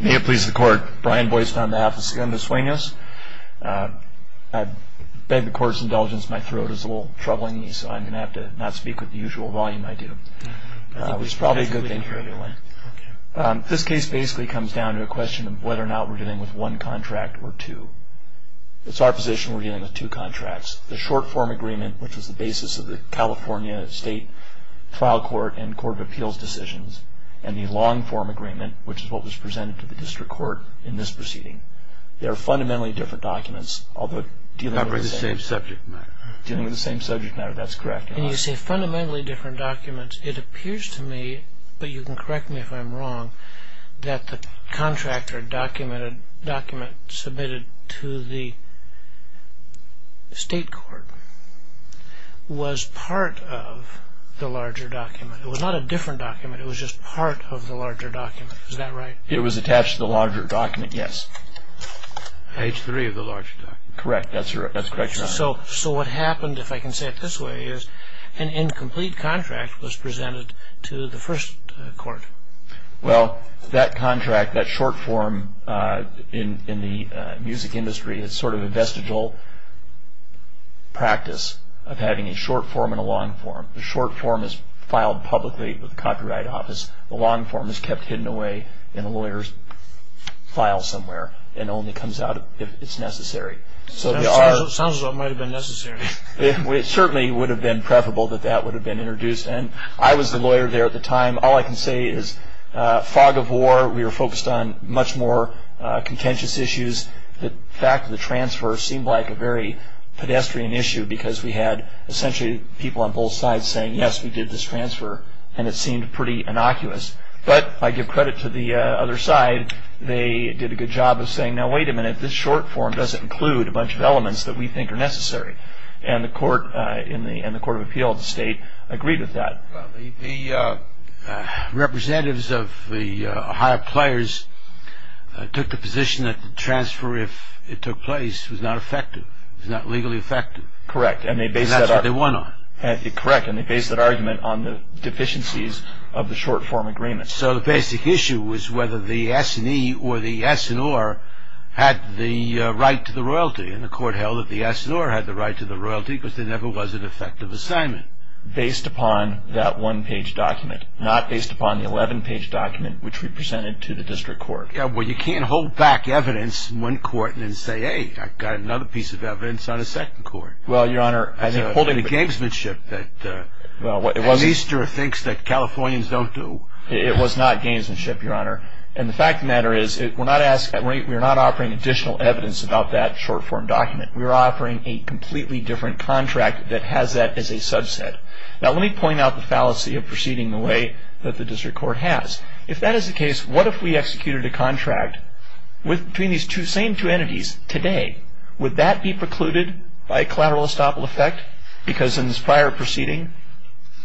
May it please the court, Brian Boyce on behalf of Segundo Suenos. I beg the court's indulgence, my throat is a little troubling so I'm going to have to not speak with the usual volume I do. This case basically comes down to a question of whether or not we're dealing with one contract or two. It's our position we're dealing with two contracts. The short form agreement, which is the basis of the California State Trial Court and Court of Appeals decisions, and the long form agreement, which is what was presented to the district court in this proceeding. They are fundamentally different documents, although dealing with the same subject matter, that's correct. You say fundamentally different documents. It appears to me, but you can correct me if I'm wrong, that the contractor document submitted to the state court was part of the larger document. It was not a different document, it was just part of the larger document. Is that right? It was attached to the larger document, yes. Page 3 of the larger document. Correct, that's correct, Your Honor. So what happened, if I can say it this way, is an incomplete contract was presented to the first court. Well, that contract, that short form in the music industry is sort of a vestigial practice of having a short form and a long form. The short form is filed publicly with the Copyright Office. The long form is kept hidden away in a lawyer's file somewhere and only comes out if it's necessary. Sounds as though it might have been necessary. It certainly would have been preferable that that would have been introduced. I was the lawyer there at the time. All I can say is fog of war. We were focused on much more contentious issues. The fact of the transfer seemed like a very pedestrian issue because we had essentially people on both sides saying, yes, we did this transfer and it seemed pretty innocuous. But I give credit to the other side. They did a good job of saying, now wait a minute, this short form doesn't include a bunch of elements that we think are necessary. And the Court of Appeal of the State agreed with that. The representatives of the Ohio players took the position that the transfer, if it took place, was not effective. It was not legally effective. Correct. And that's what they won on. Correct. And they based that argument on the deficiencies of the short form agreement. So the basic issue was whether the S&E or the S&R had the right to the royalty. And the court held that the S&R had the right to the royalty because there never was an effective assignment. Based upon that one-page document, not based upon the 11-page document, which we presented to the district court. Yeah, well, you can't hold back evidence in one court and then say, hey, I've got another piece of evidence on a second court. Well, Your Honor, I think holding the gamesmanship that Easter thinks that Californians don't do. It was not gamesmanship, Your Honor. And the fact of the matter is we're not offering additional evidence about that short form document. We're offering a completely different contract that has that as a subset. Now, let me point out the fallacy of proceeding the way that the district court has. If that is the case, what if we executed a contract between these same two entities today? Would that be precluded by collateral estoppel effect? Because in this prior proceeding,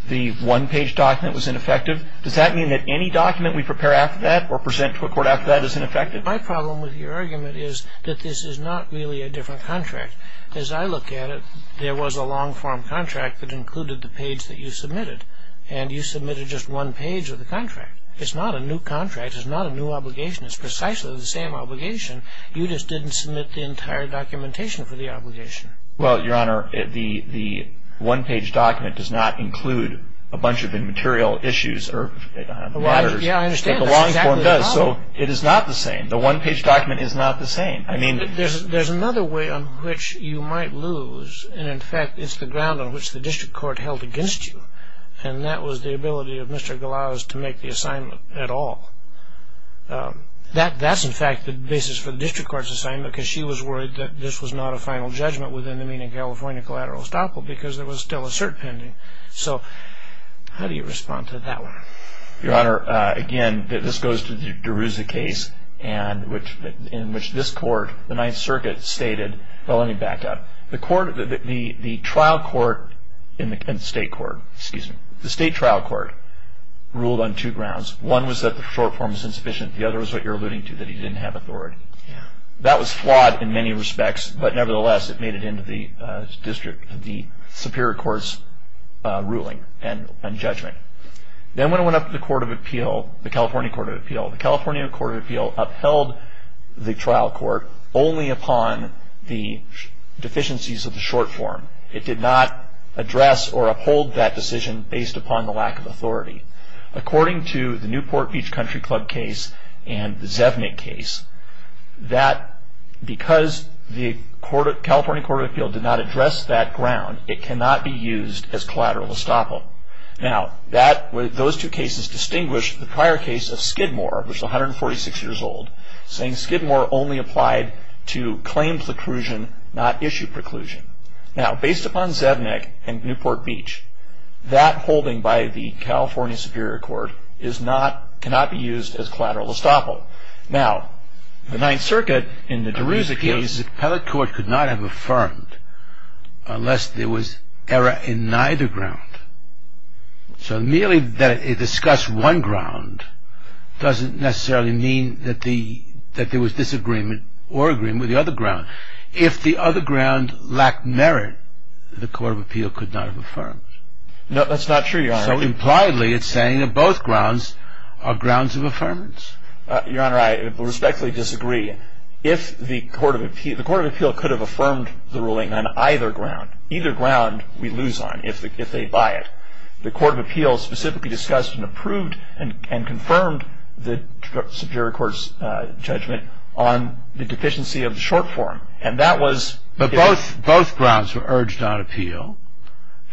the one-page document was ineffective. Does that mean that any document we prepare after that or present to a court after that is ineffective? My problem with your argument is that this is not really a different contract. As I look at it, there was a long-form contract that included the page that you submitted, and you submitted just one page of the contract. It's not a new contract. It's not a new obligation. It's precisely the same obligation. You just didn't submit the entire documentation for the obligation. Well, Your Honor, the one-page document does not include a bunch of immaterial issues or matters. Yeah, I understand. That's exactly the problem. So it is not the same. The one-page document is not the same. There's another way on which you might lose, and, in fact, it's the ground on which the district court held against you, and that was the ability of Mr. Glaus to make the assignment at all. That's, in fact, the basis for the district court's assignment because she was worried that this was not a final judgment within the Meaning California Collateral Estoppel because there was still a cert pending. So how do you respond to that one? Your Honor, again, this goes to the Derouza case in which this court, the Ninth Circuit, stated. Well, let me back up. The trial court in the state court ruled on two grounds. One was that the short form was insufficient. The other was what you're alluding to, that he didn't have authority. That was flawed in many respects, but, nevertheless, it made it into the Superior Court's ruling and judgment. Then when it went up to the Court of Appeal, the California Court of Appeal, the California Court of Appeal upheld the trial court only upon the deficiencies of the short form. It did not address or uphold that decision based upon the lack of authority. According to the Newport Beach Country Club case and the Zevnik case, that because the California Court of Appeal did not address that ground, it cannot be used as collateral estoppel. Now, those two cases distinguish the prior case of Skidmore, which is 146 years old, saying Skidmore only applied to claim preclusion, not issue preclusion. Now, based upon Zevnik and Newport Beach, that holding by the California Superior Court cannot be used as collateral estoppel. Now, the Ninth Circuit, in the DeRusa case... The appellate court could not have affirmed unless there was error in neither ground. So merely that it discussed one ground doesn't necessarily mean that there was disagreement or agreement with the other ground. If the other ground lacked merit, the Court of Appeal could not have affirmed. No, that's not true, Your Honor. So, impliedly, it's saying that both grounds are grounds of affirmance. Your Honor, I respectfully disagree. If the Court of Appeal could have affirmed the ruling on either ground, either ground we lose on if they buy it. The Court of Appeal specifically discussed and approved and confirmed the Superior Court's judgment on the deficiency of the short form, and that was... But both grounds were urged on appeal,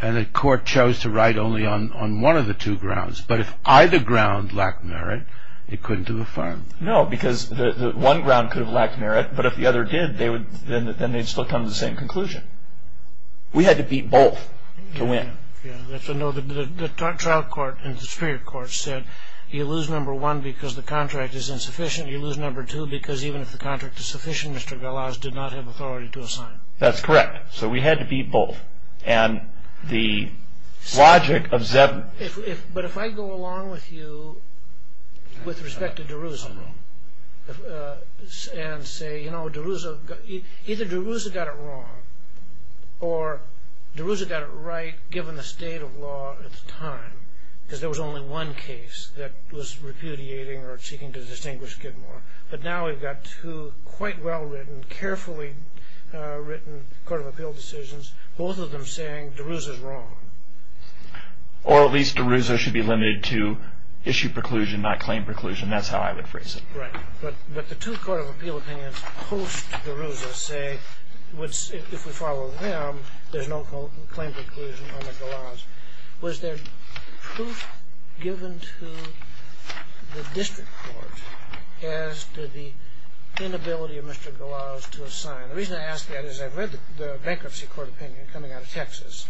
and the Court chose to write only on one of the two grounds. But if either ground lacked merit, it couldn't have affirmed. No, because one ground could have lacked merit, but if the other did, then they'd still come to the same conclusion. We had to beat both to win. The trial court in the Superior Court said, you lose, number one, because the contract is insufficient. You lose, number two, because even if the contract is sufficient, Mr. Galaz did not have authority to assign. That's correct. So we had to beat both. And the logic of Zev... But if I go along with you with respect to DeRuza, and say, you know, DeRuza... Either DeRuza got it wrong, or DeRuza got it right, given the state of law at the time, because there was only one case that was repudiating or seeking to distinguish Gidmore. But now we've got two quite well-written, carefully written Court of Appeal decisions, both of them saying DeRuza's wrong. Or at least DeRuza should be limited to issue preclusion, not claim preclusion. That's how I would phrase it. Right. But the two Court of Appeal opinions post-DeRuza say, if we follow them, there's no claim preclusion on the Galaz. Was there proof given to the District Court as to the inability of Mr. Galaz to assign? The reason I ask that is I've read the Bankruptcy Court opinion coming out of Texas,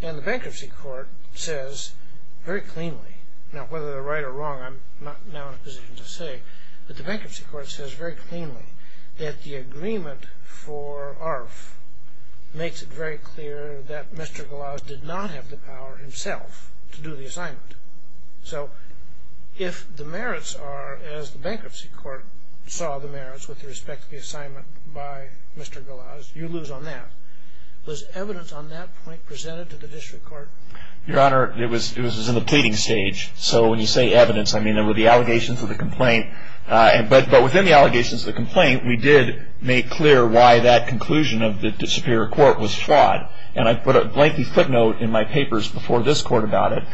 and the Bankruptcy Court says very cleanly, now whether they're right or wrong, I'm not now in a position to say, but the Bankruptcy Court says very cleanly that the agreement for ARF makes it very clear that Mr. Galaz did not have the power himself to do the assignment. So if the merits are as the Bankruptcy Court saw the merits with respect to the assignment by Mr. Galaz, you lose on that. Was evidence on that point presented to the District Court? Your Honor, it was in the pleading stage. So when you say evidence, I mean there were the allegations of the complaint. But within the allegations of the complaint, we did make clear why that conclusion of the Superior Court was flawed, and I put a blankey footnote in my papers before this Court about it.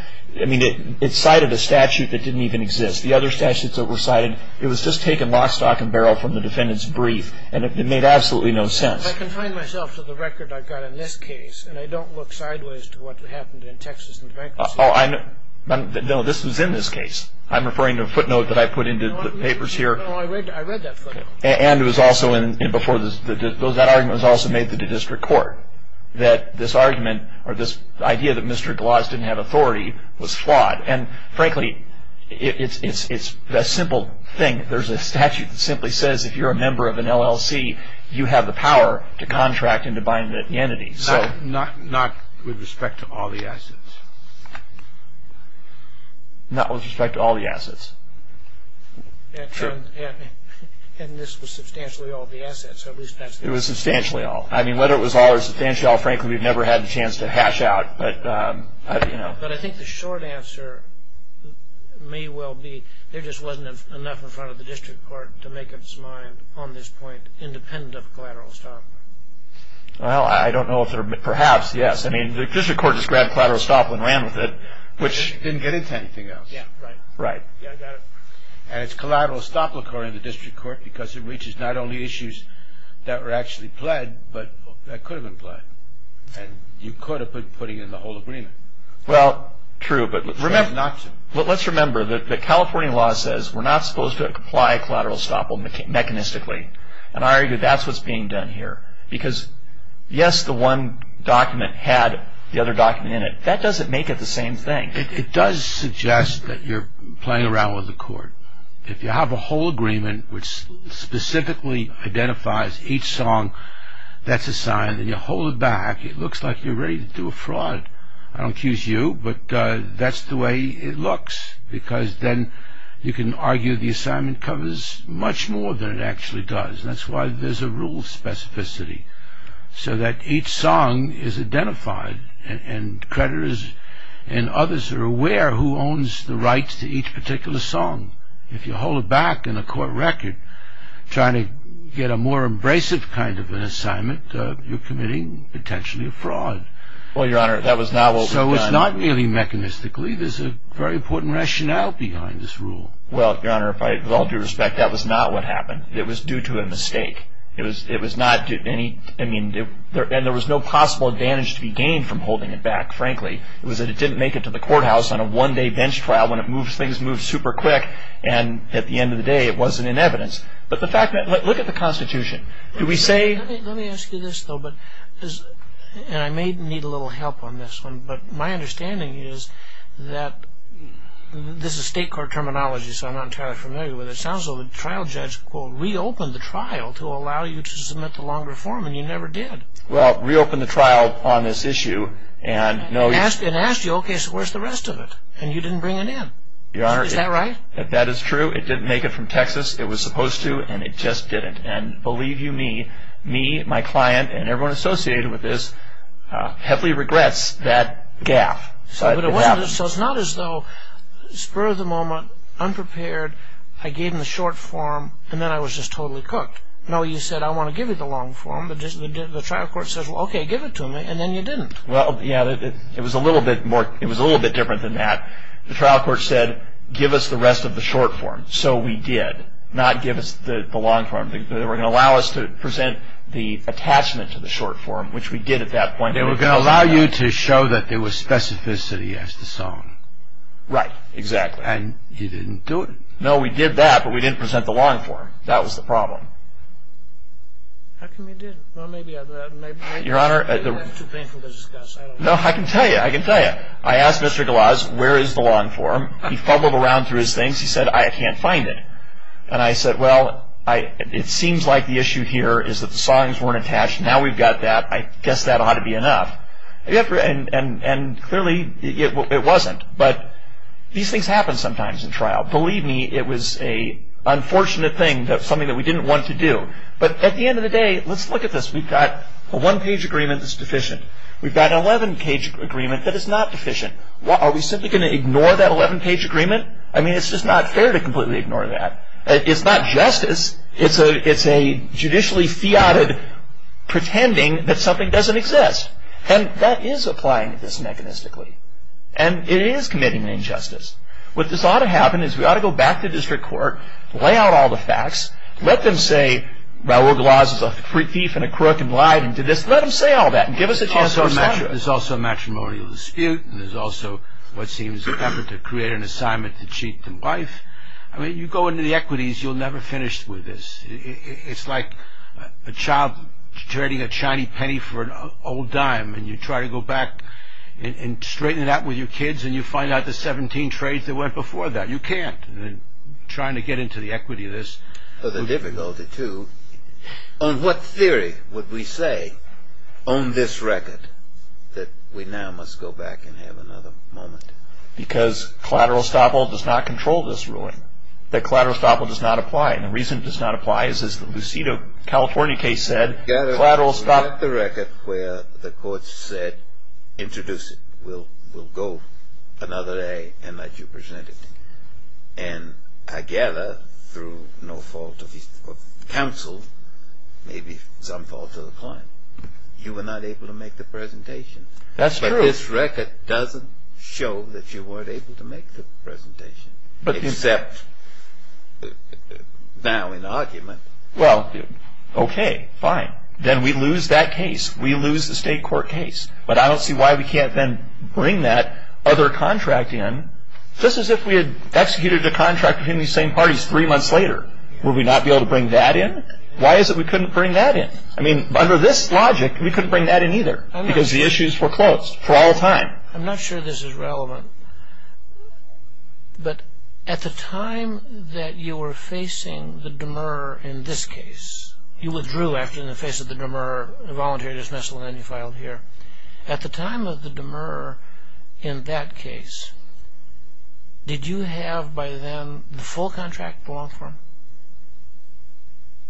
I mean it cited a statute that didn't even exist. The other statutes that were cited, it was just taken lock, stock, and barrel from the defendant's brief, and it made absolutely no sense. I confine myself to the record I've got in this case, and I don't look sideways to what happened in Texas in the Bankruptcy Court. No, this was in this case. I'm referring to a footnote that I put into the papers here. No, I read that footnote. And that argument was also made to the District Court, that this argument or this idea that Mr. Galaz didn't have authority was flawed. And frankly, it's a simple thing. There's a statute that simply says if you're a member of an LLC, you have the power to contract and to buy an entity. Not with respect to all the assets. Not with respect to all the assets. True. And this was substantially all the assets. It was substantially all. I mean whether it was all or substantially all, frankly, we've never had the chance to hash out. But I think the short answer may well be there just wasn't enough in front of the District Court to make up its mind on this point independent of collateral estoppel. Well, I don't know if there – perhaps, yes. I mean the District Court just grabbed collateral estoppel and ran with it, which didn't get into anything else. Yeah, right. Right. Yeah, I got it. And it's collateral estoppel according to the District Court because it reaches not only issues that were actually pled, but that could have been pled. And you could have been putting in the whole agreement. Well, true, but let's remember – Not true. Let's remember that the California law says we're not supposed to apply collateral estoppel mechanistically. And I argue that's what's being done here. Because, yes, the one document had the other document in it. That doesn't make it the same thing. It does suggest that you're playing around with the court. If you have a whole agreement which specifically identifies each song that's assigned and you hold it back, it looks like you're ready to do a fraud. I don't accuse you, but that's the way it looks because then you can argue the assignment covers much more than it actually does. That's why there's a rule specificity so that each song is identified and creditors and others are aware who owns the rights to each particular song. If you hold it back in a court record, trying to get a more abrasive kind of an assignment, you're committing potentially a fraud. Well, Your Honor, that was not what was done. So it's not really mechanistically. There's a very important rationale behind this rule. Well, Your Honor, with all due respect, that was not what happened. It was due to a mistake. And there was no possible advantage to be gained from holding it back, frankly. It was that it didn't make it to the courthouse on a one-day bench trial when things moved super quick and at the end of the day it wasn't in evidence. But look at the Constitution. Let me ask you this, though, and I may need a little help on this one, but my understanding is that this is state court terminology, so I'm not entirely familiar with it. It sounds as though the trial judge, quote, reopened the trial to allow you to submit to longer form, and you never did. Well, reopened the trial on this issue and no... And asked you, okay, so where's the rest of it? And you didn't bring it in. Your Honor... Is that right? That is true. It didn't make it from Texas. It was supposed to, and it just didn't. And believe you me, me, my client, and everyone associated with this heavily regrets that gaffe. So it's not as though spur of the moment, unprepared, I gave him the short form, and then I was just totally cooked. No, you said, I want to give you the long form, but the trial court says, well, okay, give it to me, and then you didn't. Well, yeah, it was a little bit different than that. The trial court said, give us the rest of the short form, so we did, not give us the long form. They were going to allow us to present the attachment to the short form, which we did at that point. They were going to allow you to show that there was specificity as to song. Right, exactly. And you didn't do it. No, we did that, but we didn't present the long form. That was the problem. How come you didn't? Well, maybe... Your Honor... It's too painful to discuss. No, I can tell you. I can tell you. I asked Mr. Galaz, where is the long form? He fumbled around through his things. He said, I can't find it. And I said, well, it seems like the issue here is that the songs weren't attached. Now we've got that. I guess that ought to be enough. And clearly, it wasn't. But these things happen sometimes in trial. Believe me, it was an unfortunate thing, something that we didn't want to do. But at the end of the day, let's look at this. We've got a one-page agreement that's deficient. We've got an 11-page agreement that is not deficient. Are we simply going to ignore that 11-page agreement? I mean, it's just not fair to completely ignore that. It's not justice. It's a judicially fiated pretending that something doesn't exist. And that is applying this mechanistically. And it is committing an injustice. What ought to happen is we ought to go back to district court, lay out all the facts, let them say Raoul Galaz is a thief and a crook and lied and did this. Let them say all that and give us a chance to decide. There's also a matrimonial dispute. And there's also what seems clever to create an assignment to cheat the wife. I mean, you go into the equities, you'll never finish with this. It's like a child trading a shiny penny for an old dime. And you try to go back and straighten it out with your kids, and you find out the 17 trades that went before that. You can't. Trying to get into the equity of this. The difficulty, too, on what theory would we say on this record that we now must go back and have another moment? Because collateral estoppel does not control this ruling. That collateral estoppel does not apply. And the reason it does not apply is, as the Lucido, California case said, collateral estoppel. We have the record where the court said, introduce it. We'll go another day and let you present it. And I gather, through no fault of counsel, maybe some fault of the client, you were not able to make the presentation. That's true. This record doesn't show that you weren't able to make the presentation, except now in argument. Well, okay, fine. Then we lose that case. We lose the state court case. But I don't see why we can't then bring that other contract in. Just as if we had executed the contract between these same parties three months later, would we not be able to bring that in? Why is it we couldn't bring that in? I mean, under this logic, we couldn't bring that in either, because the issues were closed. For all time. I'm not sure this is relevant. But at the time that you were facing the demur in this case, you withdrew, actually, in the face of the demur, a voluntary dismissal, and then you filed here. At the time of the demur in that case, did you have by then the full contract belong for him?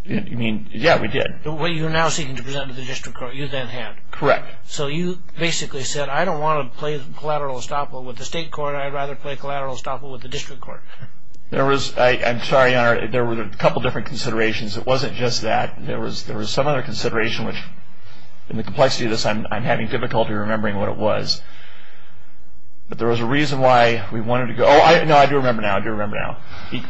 You mean, yeah, we did. The one you're now seeking to present to the district court, you then had. Correct. So you basically said, I don't want to play collateral estoppel with the state court. I'd rather play collateral estoppel with the district court. I'm sorry, Your Honor. There were a couple different considerations. It wasn't just that. There was some other consideration, which in the complexity of this, I'm having difficulty remembering what it was. But there was a reason why we wanted to go. No, I do remember now. I do remember now.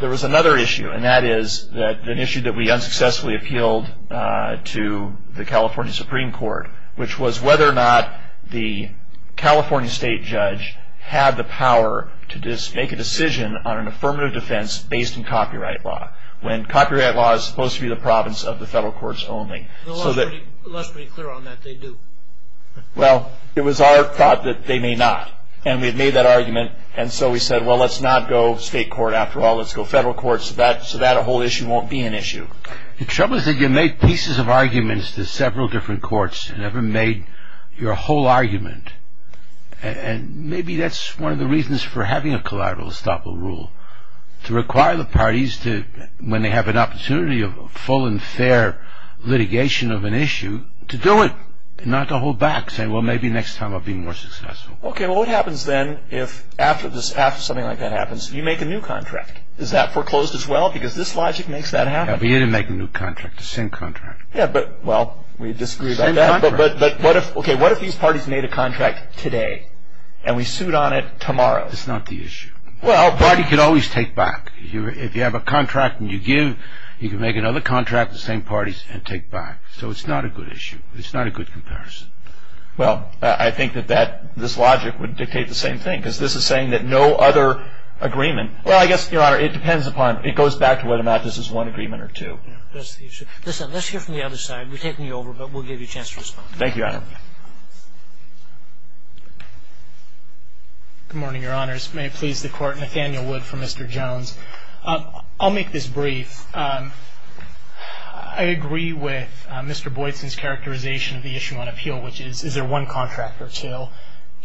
There was another issue, and that is an issue that we unsuccessfully appealed to the California Supreme Court, which was whether or not the California state judge had the power to make a decision on an affirmative defense based on copyright law, when copyright law is supposed to be the province of the federal courts only. The law is pretty clear on that. They do. Well, it was our thought that they may not. And we had made that argument, and so we said, well, let's not go state court after all. The trouble is that you made pieces of arguments to several different courts and never made your whole argument. And maybe that's one of the reasons for having a collateral estoppel rule, to require the parties to, when they have an opportunity of full and fair litigation of an issue, to do it and not to hold back, saying, well, maybe next time I'll be more successful. Okay. Well, what happens then if after something like that happens, you make a new contract? Is that foreclosed as well? Because this logic makes that happen. Yeah, but you didn't make a new contract. The same contract. Yeah, but, well, we disagree about that. Same contract. But, okay, what if these parties made a contract today and we sued on it tomorrow? That's not the issue. Well, but. A party can always take back. If you have a contract and you give, you can make another contract with the same parties and take back. So it's not a good issue. It's not a good comparison. Well, I think that this logic would dictate the same thing, because this is saying that no other agreement. Well, I guess, Your Honor, it depends upon, it goes back to whether or not this is one agreement or two. Yeah, that's the issue. Listen, let's hear from the other side. We're taking you over, but we'll give you a chance to respond. Thank you, Your Honor. Good morning, Your Honors. May it please the Court, Nathaniel Wood for Mr. Jones. I'll make this brief. I agree with Mr. Boydson's characterization of the issue on appeal, which is, is there one contract or two? Well,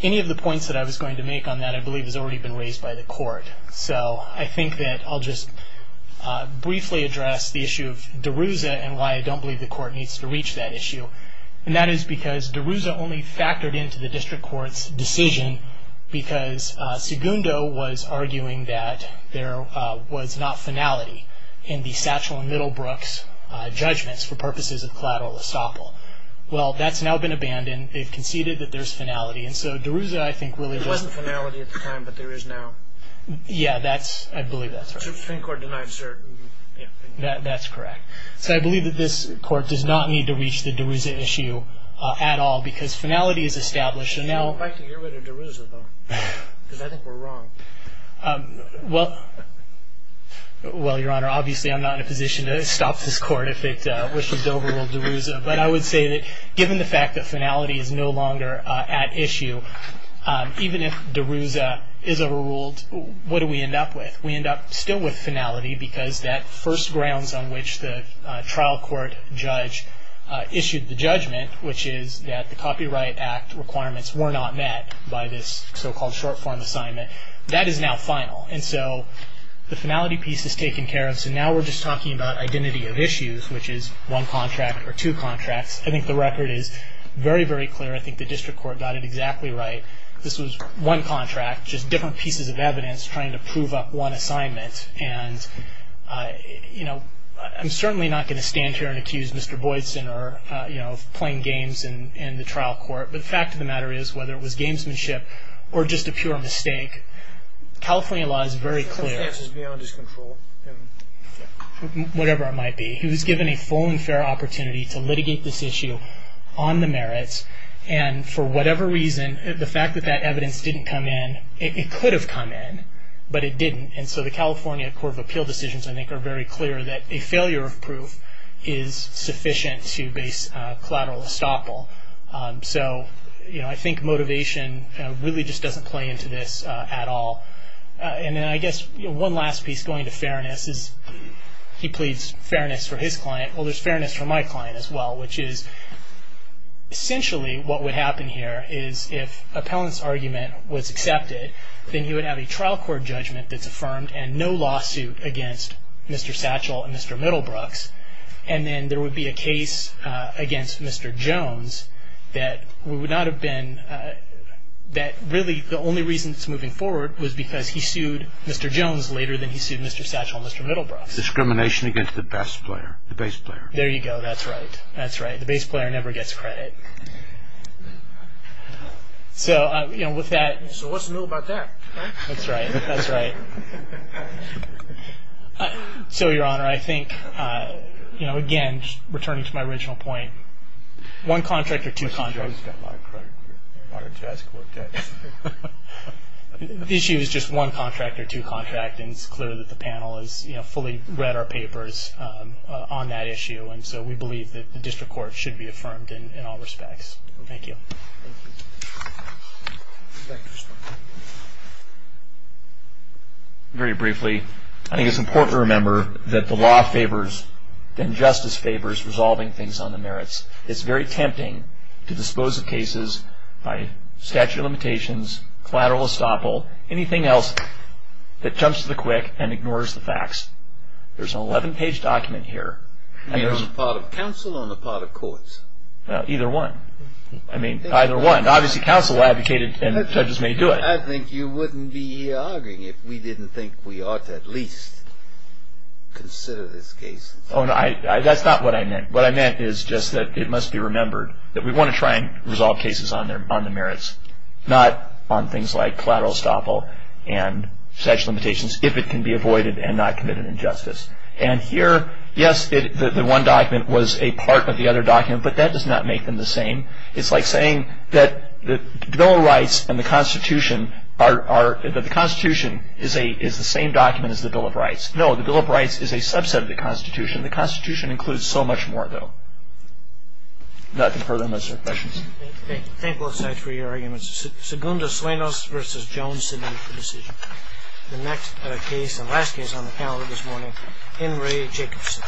any of the points that I was going to make on that, I believe, has already been raised by the Court. So I think that I'll just briefly address the issue of DeRuza and why I don't believe the Court needs to reach that issue. And that is because DeRuza only factored into the District Court's decision because Segundo was arguing that there was not finality in the Satchel and Middlebrooks judgments for purposes of collateral estoppel. Well, that's now been abandoned. They've conceded that there's finality. And so DeRuza, I think, really just— There wasn't finality at the time, but there is now. Yeah, I believe that's right. The Supreme Court denied certain— That's correct. So I believe that this Court does not need to reach the DeRuza issue at all because finality is established. I'd like to hear whether DeRuza, though, because I think we're wrong. Well, Your Honor, obviously I'm not in a position to stop this Court if it wishes to overrule DeRuza. But I would say that given the fact that finality is no longer at issue, even if DeRuza is overruled, what do we end up with? We end up still with finality because that first grounds on which the trial court judge issued the judgment, which is that the Copyright Act requirements were not met by this so-called short-form assignment, that is now final. And so the finality piece is taken care of. So now we're just talking about identity of issues, which is one contract or two contracts. I think the record is very, very clear. I think the district court got it exactly right. This was one contract, just different pieces of evidence trying to prove up one assignment. And, you know, I'm certainly not going to stand here and accuse Mr. Boydson of playing games in the trial court. But the fact of the matter is, whether it was gamesmanship or just a pure mistake, California law is very clear. The defense is beyond his control. Whatever it might be. He was given a full and fair opportunity to litigate this issue on the merits. And for whatever reason, the fact that that evidence didn't come in, it could have come in, but it didn't. And so the California Court of Appeal decisions, I think, are very clear that a failure of proof is sufficient to base collateral estoppel. So, you know, I think motivation really just doesn't play into this at all. And then I guess one last piece going to fairness is he pleads fairness for his client. Well, there's fairness for my client as well, which is essentially what would happen here is if appellant's argument was accepted, then he would have a trial court judgment that's affirmed and no lawsuit against Mr. Satchel and Mr. Middlebrooks. And then there would be a case against Mr. Jones that we would not have been, that really the only reason it's moving forward was because he sued Mr. Jones later than he sued Mr. Satchel and Mr. Middlebrooks. Discrimination against the best player, the base player. There you go. That's right. That's right. The base player never gets credit. So, you know, with that. So what's new about that? That's right. That's right. So, Your Honor, I think, you know, again, returning to my original point, one contract or two contracts. Mr. Jones got a lot of credit. The issue is just one contract or two contracts. And it's clear that the panel has fully read our papers on that issue. And so we believe that the district court should be affirmed in all respects. Thank you. Thank you. Thank you. Very briefly, I think it's important to remember that the law favors and justice favors resolving things on the merits. It's very tempting to dispose of cases by statute of limitations, collateral estoppel, anything else that jumps to the quick and ignores the facts. There's an 11-page document here. You mean on the part of counsel or on the part of courts? Either one. I mean, either one. Obviously, counsel advocated and judges may do it. I think you wouldn't be arguing if we didn't think we ought to at least consider this case. Oh, no. That's not what I meant. What I meant is just that it must be remembered that we want to try and resolve cases on the merits, not on things like collateral estoppel and statute of limitations, if it can be avoided and not committed injustice. And here, yes, the one document was a part of the other document, but that does not make them the same. It's like saying that the Bill of Rights and the Constitution are – that the Constitution is the same document as the Bill of Rights. No, the Bill of Rights is a subset of the Constitution. The Constitution includes so much more, though. Nothing further unless there are questions. Thank you. Thank both sides for your arguments. Segundo Suenos v. Jones sitting for decision. The next case and last case on the panel this morning, Henry Jacobson.